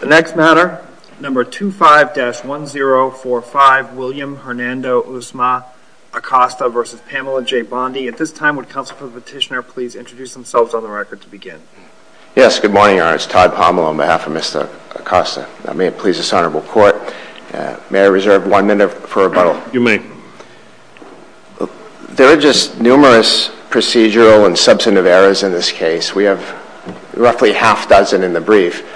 The next matter, number 25-1045, William Hernando Usma Acosta v. Pamela J. Bondi. At this time, would counsel for the petitioner please introduce themselves on the record to begin. Yes, good morning, Your Honor. It's Todd Pomelo on behalf of Mr. Acosta. May it please this Honorable Court, may I reserve one minute for rebuttal? You may. There are just numerous procedural and substantive errors in this case. We have roughly half dozen in the brief.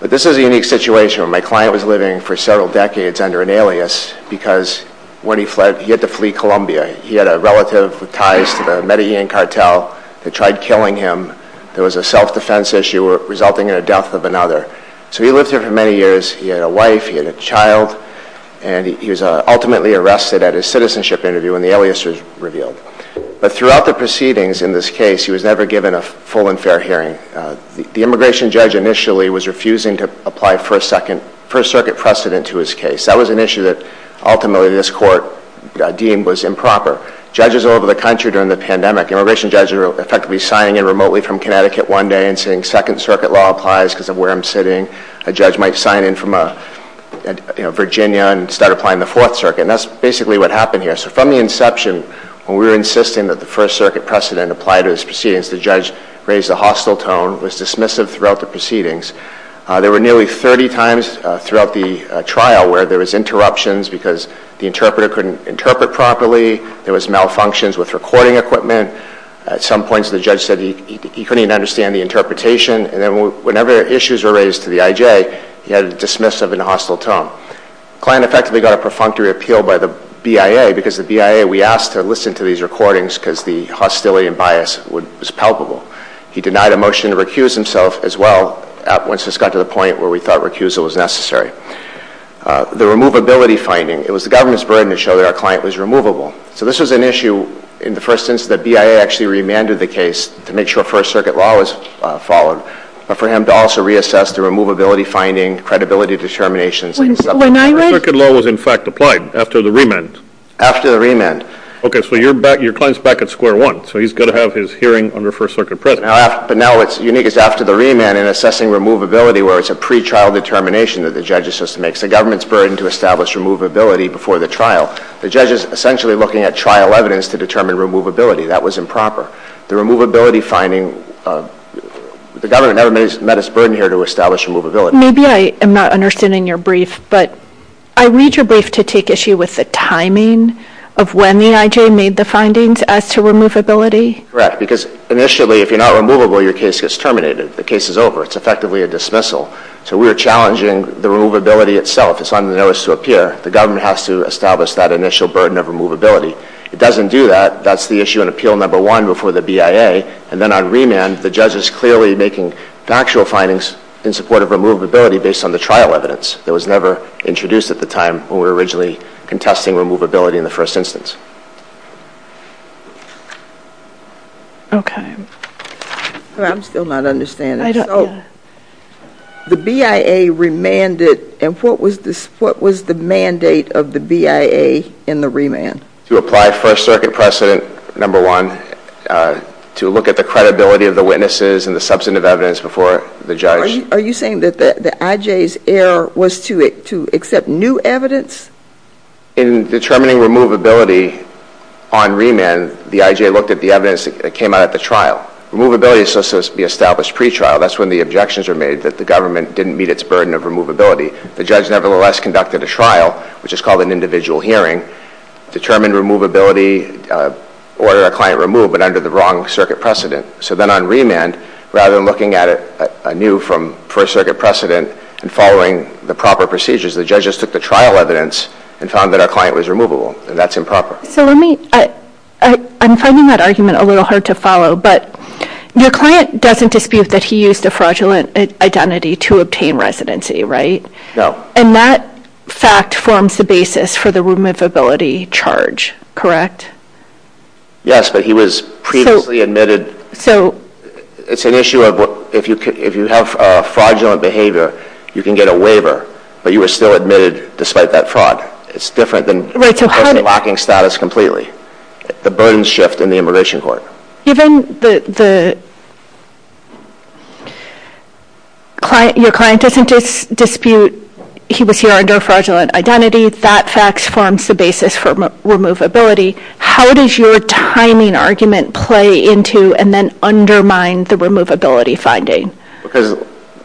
But this is a unique situation where my client was living for several decades under an alias because when he fled, he had to flee Colombia. He had a relative with ties to the Medellin cartel that tried killing him. There was a self-defense issue resulting in the death of another. So he lived here for many years. He had a wife, he had a child, and he was ultimately arrested at a citizenship interview when the alias was revealed. But throughout the proceedings in this case, he was never given a full and fair hearing. The immigration judge initially was refusing to apply First Circuit precedent to his case. That was an issue that ultimately this Court deemed was improper. Judges all over the country during the pandemic, immigration judges were effectively signing in remotely from Connecticut one day and saying Second Circuit law applies because of where I'm sitting. A judge might sign in from Virginia and start applying the Fourth Circuit. And that's basically what happened here. So from the inception, when we were insisting that the First Circuit precedent apply to this proceedings, the judge raised a hostile tone, was dismissive throughout the proceedings. There were nearly 30 times throughout the trial where there was interruptions because the interpreter couldn't interpret properly. There was malfunctions with recording equipment. At some points, the judge said he couldn't even understand the interpretation. And then whenever issues were raised to the IJ, he had a dismissive and hostile tone. The client effectively got a perfunctory appeal by the BIA because the BIA, we asked to listen to these recordings because the hostility and bias was palpable. He denied a motion to recuse himself as well once this got to the point where we thought recusal was necessary. The removability finding, it was the government's burden to show that our client was removable. So this was an issue in the first instance that BIA actually remanded the case to make sure First Circuit law was followed, but for him to also reassess the removability finding, credibility determinations and stuff like that. The First Circuit law was in fact applied after the remand. After the remand. Okay, so your client is back at square one. So he's got to have his hearing under First Circuit precedent. But now what's unique is after the remand and assessing removability where it's a pre-trial determination that the judge is supposed to make. It's the government's burden to establish removability before the trial. The judge is essentially looking at trial evidence to determine removability. That was improper. The removability finding, the government never met its burden here to establish removability. Maybe I am not understanding your brief, but I read your brief to take issue with the timing of when the IJ made the findings as to removability. Correct, because initially if you're not removable your case gets terminated. The case is over. It's effectively a dismissal. So we were challenging the removability itself. It's on the notice to appear. The government has to establish that initial burden of removability. It doesn't do that. That's the issue in Appeal No. 1 before the BIA. And then on remand the judge is clearly making factual findings in support of removability based on the trial evidence. It was never introduced at the time when we were originally contesting removability in the first instance. Okay. I'm still not understanding. I don't, yeah. So the BIA remanded, and what was the mandate of the BIA in the remand? To apply First Circuit precedent No. 1, to look at the credibility of the witnesses and the substantive evidence before the judge. Are you saying that the IJ's error was to accept new evidence? In determining removability on remand the IJ looked at the evidence that came out at the trial. Removability is supposed to be established pretrial. That's when the objections are made that the government didn't meet its burden of removability. The judge nevertheless conducted a trial, which is called an individual hearing, determined removability, order a client removed, but under the wrong circuit precedent. So then on remand, rather than looking at a new First Circuit precedent and following the proper procedures, the judges took the trial evidence and found that our client was removable. And that's improper. So let me, I'm finding that argument a little hard to follow, but your client doesn't dispute that he used a fraudulent identity to obtain residency, right? No. And that fact forms the basis for the removability charge, correct? Yes, but he was previously admitted. It's an issue of if you have a fraudulent behavior, you can get a waiver, but you were still admitted despite that fraud. It's different than a person lacking status completely. The burdens shift in the immigration court. Given that your client doesn't dispute he was here under a fraudulent identity, that fact forms the basis for removability. How does your timing argument play into and then undermine the removability finding? Because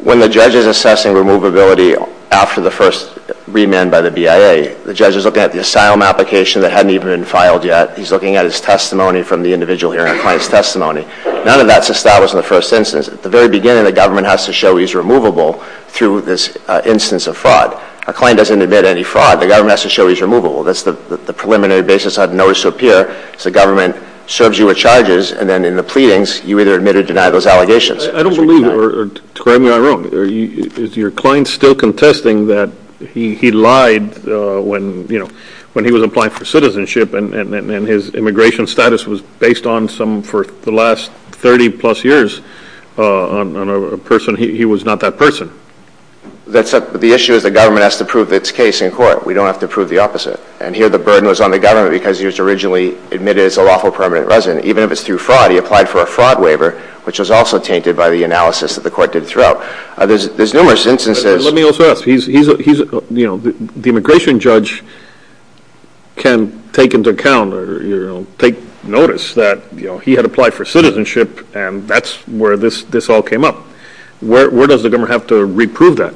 when the judge is assessing removability after the first remand by the BIA, the judge is looking at the asylum application that hadn't even been filed yet. He's looking at his testimony from the individual hearing, a client's testimony. None of that's established in the first instance. At the very beginning, the government has to show he's removable through this instance of fraud. A client doesn't admit any fraud. The government has to show he's removable. That's the preliminary basis I've noticed up here is the government serves you with charges, and then in the pleadings you either admit or deny those allegations. I don't believe, or correct me if I'm wrong, is your client still contesting that he lied when he was applying for citizenship and his immigration status was based on some for the last 30-plus years on a person. He was not that person. The issue is the government has to prove its case in court. We don't have to prove the opposite. And here the burden was on the government because he was originally admitted as a lawful permanent resident. Even if it's through fraud, he applied for a fraud waiver, which was also tainted by the analysis that the court did throughout. There's numerous instances. Let me also ask. The immigration judge can take into account or take notice that he had applied for citizenship, and that's where this all came up. Where does the government have to reprove that?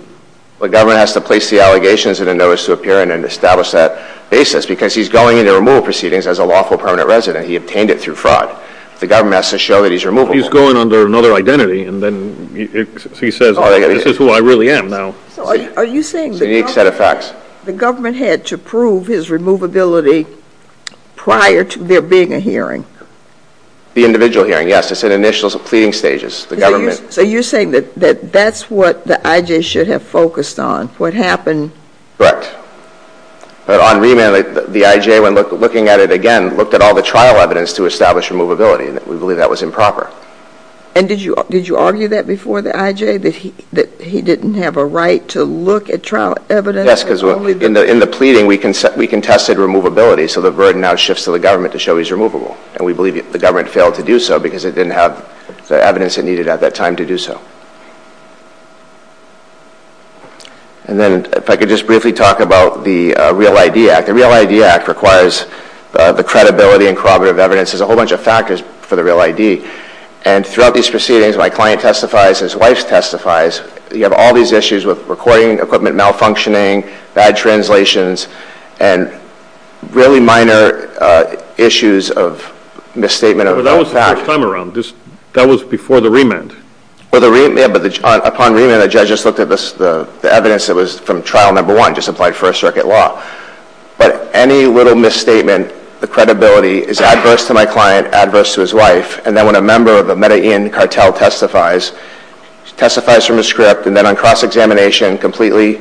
The government has to place the allegations in a notice to appear and establish that basis because he's going into removal proceedings as a lawful permanent resident. He obtained it through fraud. The government has to show that he's removable. He's going under another identity, and then he says this is who I really am now. Are you saying the government had to prove his removability prior to there being a hearing? The individual hearing, yes. It's in initial pleading stages. So you're saying that that's what the IJ should have focused on, what happened. Correct. But on remand, the IJ, when looking at it again, looked at all the trial evidence to establish removability, and we believe that was improper. And did you argue that before the IJ, that he didn't have a right to look at trial evidence? Yes, because in the pleading, we contested removability, so the burden now shifts to the government to show he's removable, and we believe the government failed to do so because it didn't have the evidence it needed at that time to do so. And then if I could just briefly talk about the Real ID Act. The Act requires the credibility and corroborative evidence. There's a whole bunch of factors for the Real ID. And throughout these proceedings, my client testifies, his wife testifies. You have all these issues with recording equipment malfunctioning, bad translations, and really minor issues of misstatement of facts. But that was the first time around. That was before the remand. Well, upon remand, the judge just looked at the evidence that was from trial number one, just applied first circuit law. But any little misstatement, the credibility is adverse to my client, adverse to his wife. And then when a member of the Medellin cartel testifies, testifies from a script, and then on cross-examination completely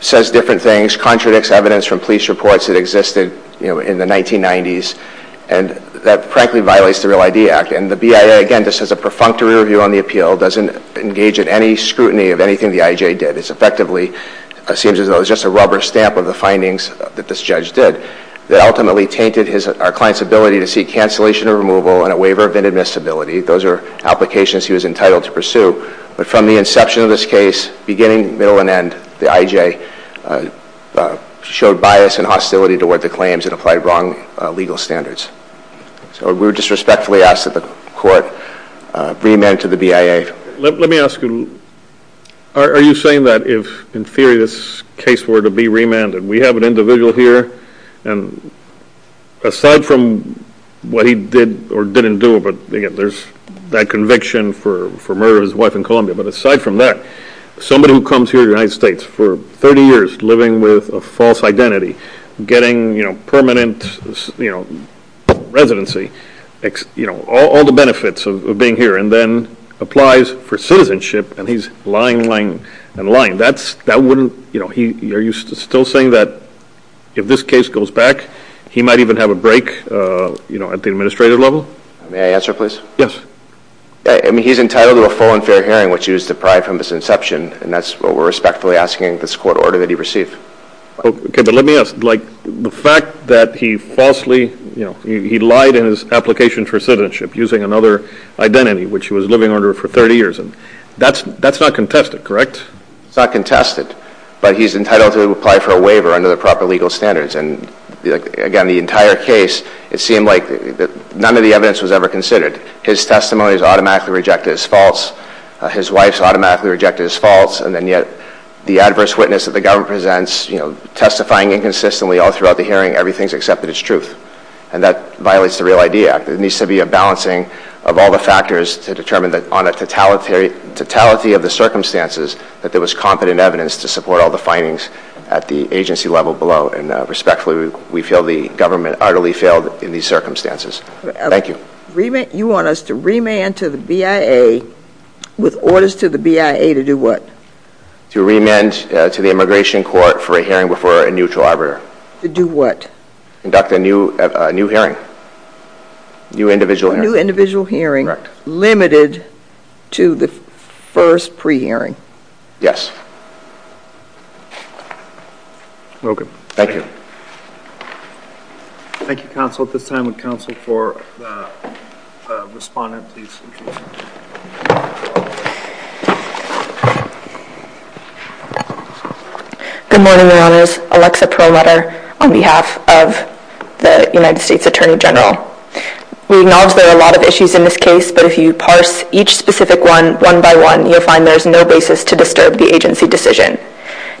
says different things, contradicts evidence from police reports that existed in the 1990s, and that frankly violates the Real ID Act. And the BIA, again, just has a perfunctory review on the appeal, doesn't engage in any scrutiny of anything the IJ did. It effectively seems as though it's just a rubber stamp of the findings that this judge did that ultimately tainted our client's ability to seek cancellation or removal and a waiver of inadmissibility. Those are applications he was entitled to pursue. But from the inception of this case, beginning, middle, and end, the IJ showed bias and hostility toward the claims and applied wrong legal standards. So we would just respectfully ask that the court reamend to the BIA. All right. Let me ask you, are you saying that if, in theory, this case were to be remanded, we have an individual here, and aside from what he did or didn't do, but there's that conviction for murder of his wife in Colombia, but aside from that, somebody who comes here to the United States for 30 years living with a false identity, getting permanent residency, all the benefits of being here, and then applies for citizenship, and he's lying, lying, and lying. That wouldn't, are you still saying that if this case goes back, he might even have a break at the administrative level? May I answer, please? Yes. He's entitled to a full and fair hearing, which he was deprived from his inception, and that's what we're respectfully asking in this court order that he received. Okay, but let me ask. Like the fact that he falsely, you know, he lied in his application for citizenship using another identity, which he was living under for 30 years, and that's not contested, correct? It's not contested, but he's entitled to apply for a waiver under the proper legal standards, and, again, the entire case, it seemed like none of the evidence was ever considered. His testimony was automatically rejected as false. His wife's automatically rejected as false, and then yet the adverse witness that the government presents, you know, testifying inconsistently all throughout the hearing, everything's accepted as truth, and that violates the Real ID Act. There needs to be a balancing of all the factors to determine that on a totality of the circumstances that there was competent evidence to support all the findings at the agency level below, and respectfully we feel the government utterly failed in these circumstances. Thank you. You want us to remand to the BIA with orders to the BIA to do what? To remand to the immigration court for a hearing before a neutral arbiter. To do what? Conduct a new hearing. A new individual hearing. A new individual hearing. Correct. Limited to the first pre-hearing. Yes. Welcome. Thank you. Thank you, counsel. At this time, would counsel for the respondent please? Good morning, Your Honors. Alexa Perlmutter on behalf of the United States Attorney General. We acknowledge there are a lot of issues in this case, but if you parse each specific one, one by one, you'll find there's no basis to disturb the agency decision.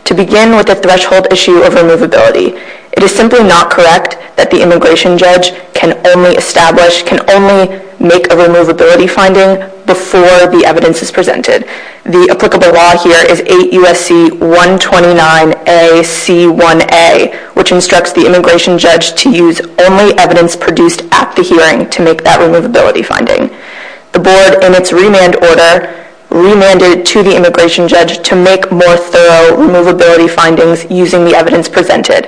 To begin with the threshold issue of removability, it is simply not correct that the immigration judge can only establish, can only make a removability finding before the evidence is presented. The applicable law here is 8 U.S.C. 129 A.C. 1A, which instructs the immigration judge to use only evidence produced at the hearing to make that removability finding. The board in its remand order remanded to the immigration judge to make more thorough removability findings using the evidence presented.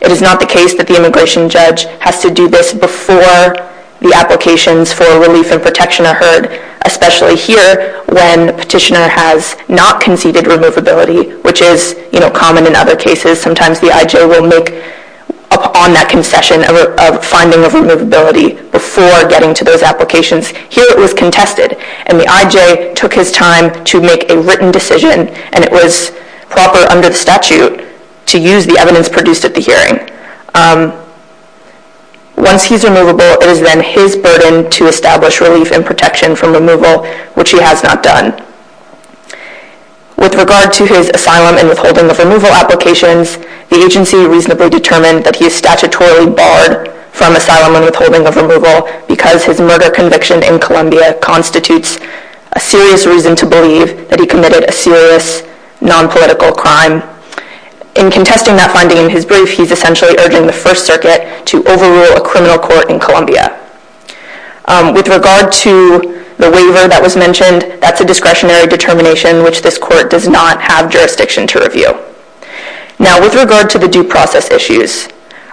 It is not the case that the immigration judge has to do this before the applications for relief and protection are heard, especially here when the petitioner has not conceded removability, which is common in other cases. Sometimes the I.J. will make upon that concession a finding of removability before getting to those applications. Here it was contested, and the I.J. took his time to make a written decision, and it was proper under the statute to use the evidence produced at the hearing. Once he's removable, it is then his burden to establish relief and protection from removal, which he has not done. With regard to his asylum and withholding of removal applications, the agency reasonably determined that he is statutorily barred from asylum and withholding of removal because his murder conviction in Columbia constitutes a serious reason to believe that he committed a serious nonpolitical crime. In contesting that finding in his brief, he's essentially urging the First Circuit to overrule a criminal court in Columbia. With regard to the waiver that was mentioned, that's a discretionary determination which this court does not have jurisdiction to review. Now, with regard to the due process issues,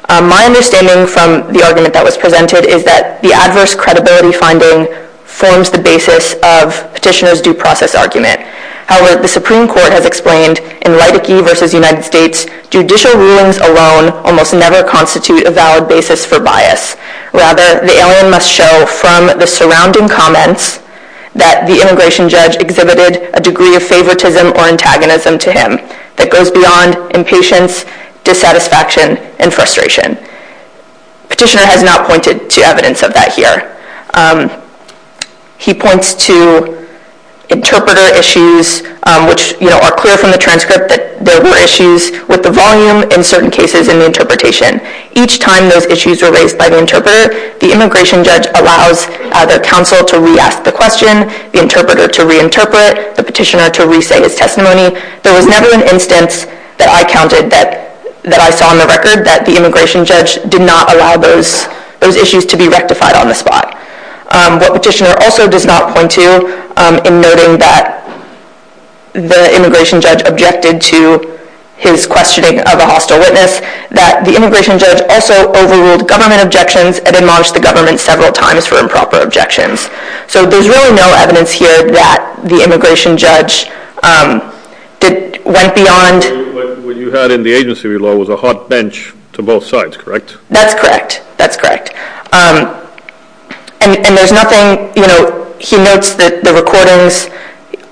my understanding from the argument that was presented is that the adverse credibility finding forms the basis of Petitioner's due process argument. However, the Supreme Court has explained in Reitke v. United States, judicial rulings alone almost never constitute a valid basis for bias. Rather, the alien must show from the surrounding comments that the immigration judge exhibited a degree of favoritism or antagonism to him that goes beyond impatience, dissatisfaction, and frustration. Petitioner has not pointed to evidence of that here. He points to interpreter issues, which are clear from the transcript that there were issues with the volume in certain cases in the interpretation. Each time those issues were raised by the interpreter, the immigration judge allows the counsel to re-ask the question, the interpreter to re-interpret, the petitioner to re-say his testimony. There was never an instance that I counted that I saw on the record that the immigration judge did not allow those issues to be rectified on the spot. What Petitioner also does not point to, in noting that the immigration judge objected to his questioning of a hostile witness, that the immigration judge also overruled government objections and then marched the government several times for improper objections. So there's really no evidence here that the immigration judge went beyond... What you had in the agency law was a hot bench to both sides, correct? That's correct. That's correct. And there's nothing... He notes that the recordings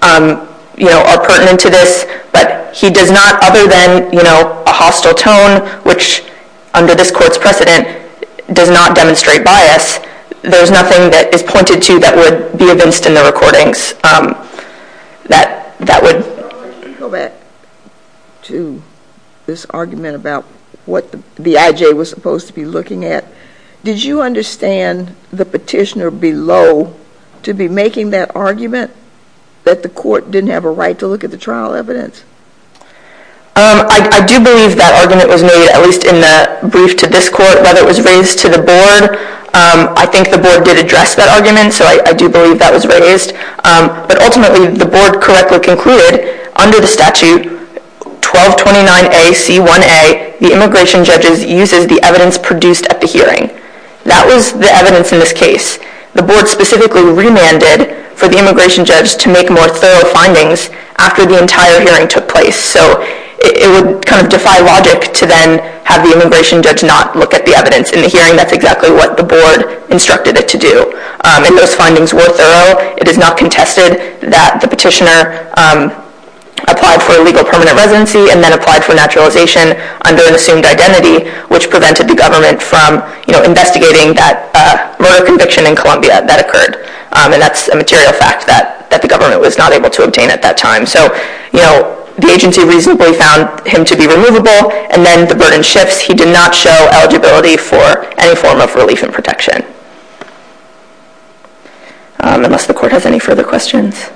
are pertinent to this, but he does not, other than a hostile tone, which under this Court's precedent does not demonstrate bias, there's nothing that is pointed to that would be evinced in the recordings that would... Go back to this argument about what the IJ was supposed to be looking at. Did you understand the petitioner below to be making that argument that the Court didn't have a right to look at the trial evidence? I do believe that argument was made, at least in the brief to this Court, that it was raised to the Board. I think the Board did address that argument, so I do believe that was raised. But ultimately, the Board correctly concluded, under the statute 1229A.C.1.A., the immigration judge uses the evidence produced at the hearing. That was the evidence in this case. The Board specifically remanded for the immigration judge to make more thorough findings after the entire hearing took place. So it would kind of defy logic to then have the immigration judge not look at the evidence in the hearing. That's exactly what the Board instructed it to do. And those findings were thorough. It is not contested that the petitioner applied for a legal permanent residency and then applied for naturalization under an assumed identity, which prevented the government from investigating that murder conviction in Columbia that occurred. And that's a material fact that the government was not able to obtain at that time. So the agency reasonably found him to be removable, and then the burden shifts. He did not show eligibility for any form of relief and protection. Unless the Court has any further questions.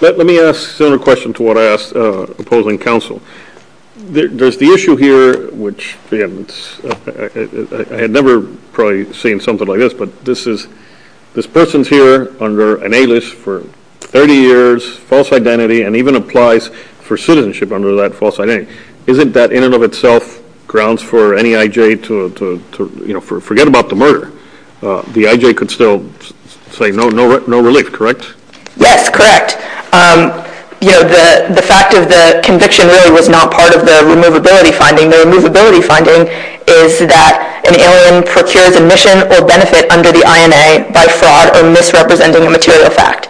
Let me ask a similar question to what I asked opposing counsel. There's the issue here, which, again, I had never probably seen something like this, but this person's here under an A-list for 30 years, false identity, and even applies for citizenship under that false identity. Isn't that in and of itself grounds for NEIJ to forget about the murder? The IJ could still say no relief, correct? Yes, correct. The fact of the conviction really was not part of the removability finding. The removability finding is that an alien procures admission or benefit under the INA by fraud or misrepresenting a material fact.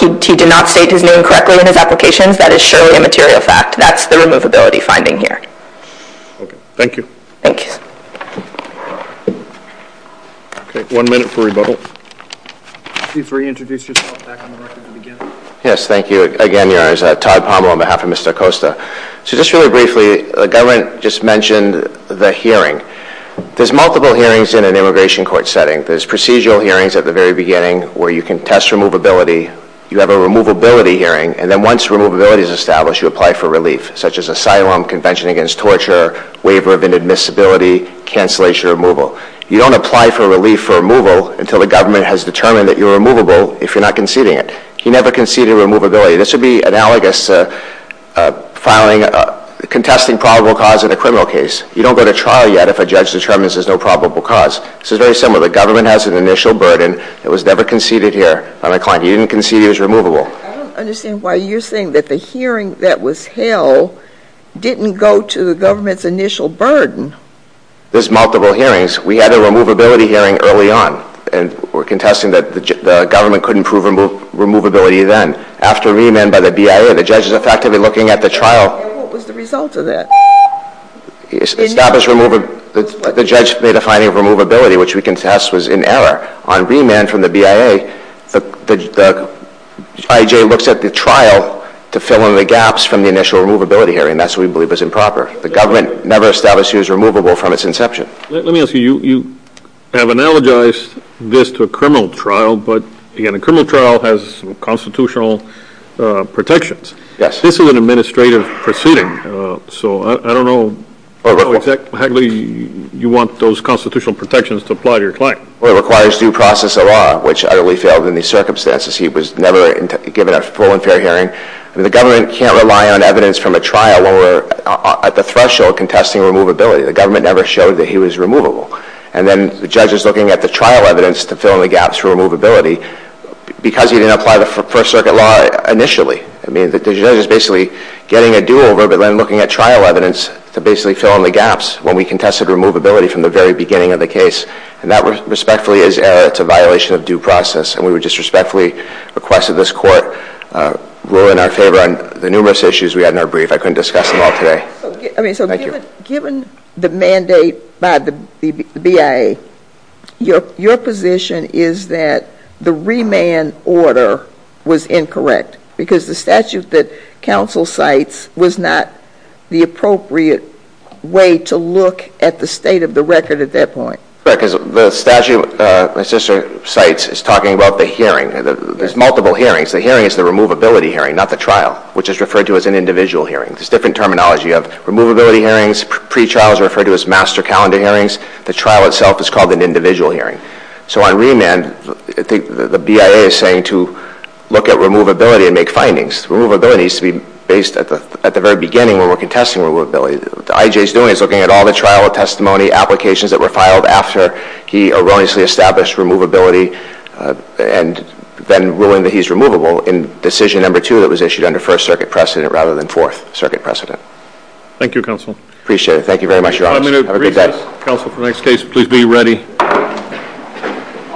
He did not state his name correctly in his applications. That is surely a material fact. That's the removability finding here. Okay, thank you. Thank you. Okay, one minute for rebuttal. Chief, will you introduce yourself back on the record at the beginning? Yes, thank you. Again, Todd Pommel on behalf of Mr. Acosta. So just really briefly, the government just mentioned the hearing. There's multiple hearings in an immigration court setting. There's procedural hearings at the very beginning where you can test removability. You have a removability hearing, and then once removability is established, you apply for relief, such as asylum, convention against torture, waiver of inadmissibility, cancellation of removal. You don't apply for relief for removal until the government has determined that you're removable if you're not conceding it. He never conceded removability. This would be analogous to filing, contesting probable cause in a criminal case. You don't go to trial yet if a judge determines there's no probable cause. This is very similar. The government has an initial burden. It was never conceded here on a client. He didn't concede he was removable. I don't understand why you're saying that the hearing that was held didn't go to the government's initial burden. There's multiple hearings. We had a removability hearing early on, and we're contesting that the government couldn't prove removability then. After remand by the BIA, the judge is effectively looking at the trial. And what was the result of that? The judge made a finding of removability, which we contest was in error. On remand from the BIA, the BIA looks at the trial to fill in the gaps from the initial removability hearing. That's what we believe is improper. The government never established he was removable from its inception. Let me ask you, you have analogized this to a criminal trial, but again, a criminal trial has some constitutional protections. This is an administrative proceeding, so I don't know how exactly you want those constitutional protections to apply to your client. Well, it requires due process of law, which utterly failed in these circumstances. He was never given a full and fair hearing. The government can't rely on evidence from a trial when we're at the threshold contesting removability. The government never showed that he was removable. And then the judge is looking at the trial evidence to fill in the gaps for removability because he didn't apply the First Circuit law initially. The judge is basically getting a do-over but then looking at trial evidence to basically fill in the gaps when we contested removability from the very beginning of the case. And that respectfully is error. It's a violation of due process. And we would just respectfully request that this court rule in our favor on the numerous issues we had in our brief. I couldn't discuss them all today. So given the mandate by the BIA, your position is that the remand order was incorrect because the statute that counsel cites was not the appropriate way to look at the state of the record at that point. Because the statute my sister cites is talking about the hearing. There's multiple hearings. The hearing is the removability hearing, not the trial, which is referred to as an individual hearing. There's different terminology. You have removability hearings. Pre-trials are referred to as master calendar hearings. The trial itself is called an individual hearing. So on remand, the BIA is saying to look at removability and make findings. Removability needs to be based at the very beginning when we're contesting removability. What the IJ is doing is looking at all the trial testimony applications that were filed after he erroneously established removability and then ruling that he's removable in decision number two that was issued under First Circuit precedent rather than Fourth Circuit precedent. Thank you, counsel. Appreciate it. Thank you very much, your honor. Have a good day. Counsel, for the next case, please be ready.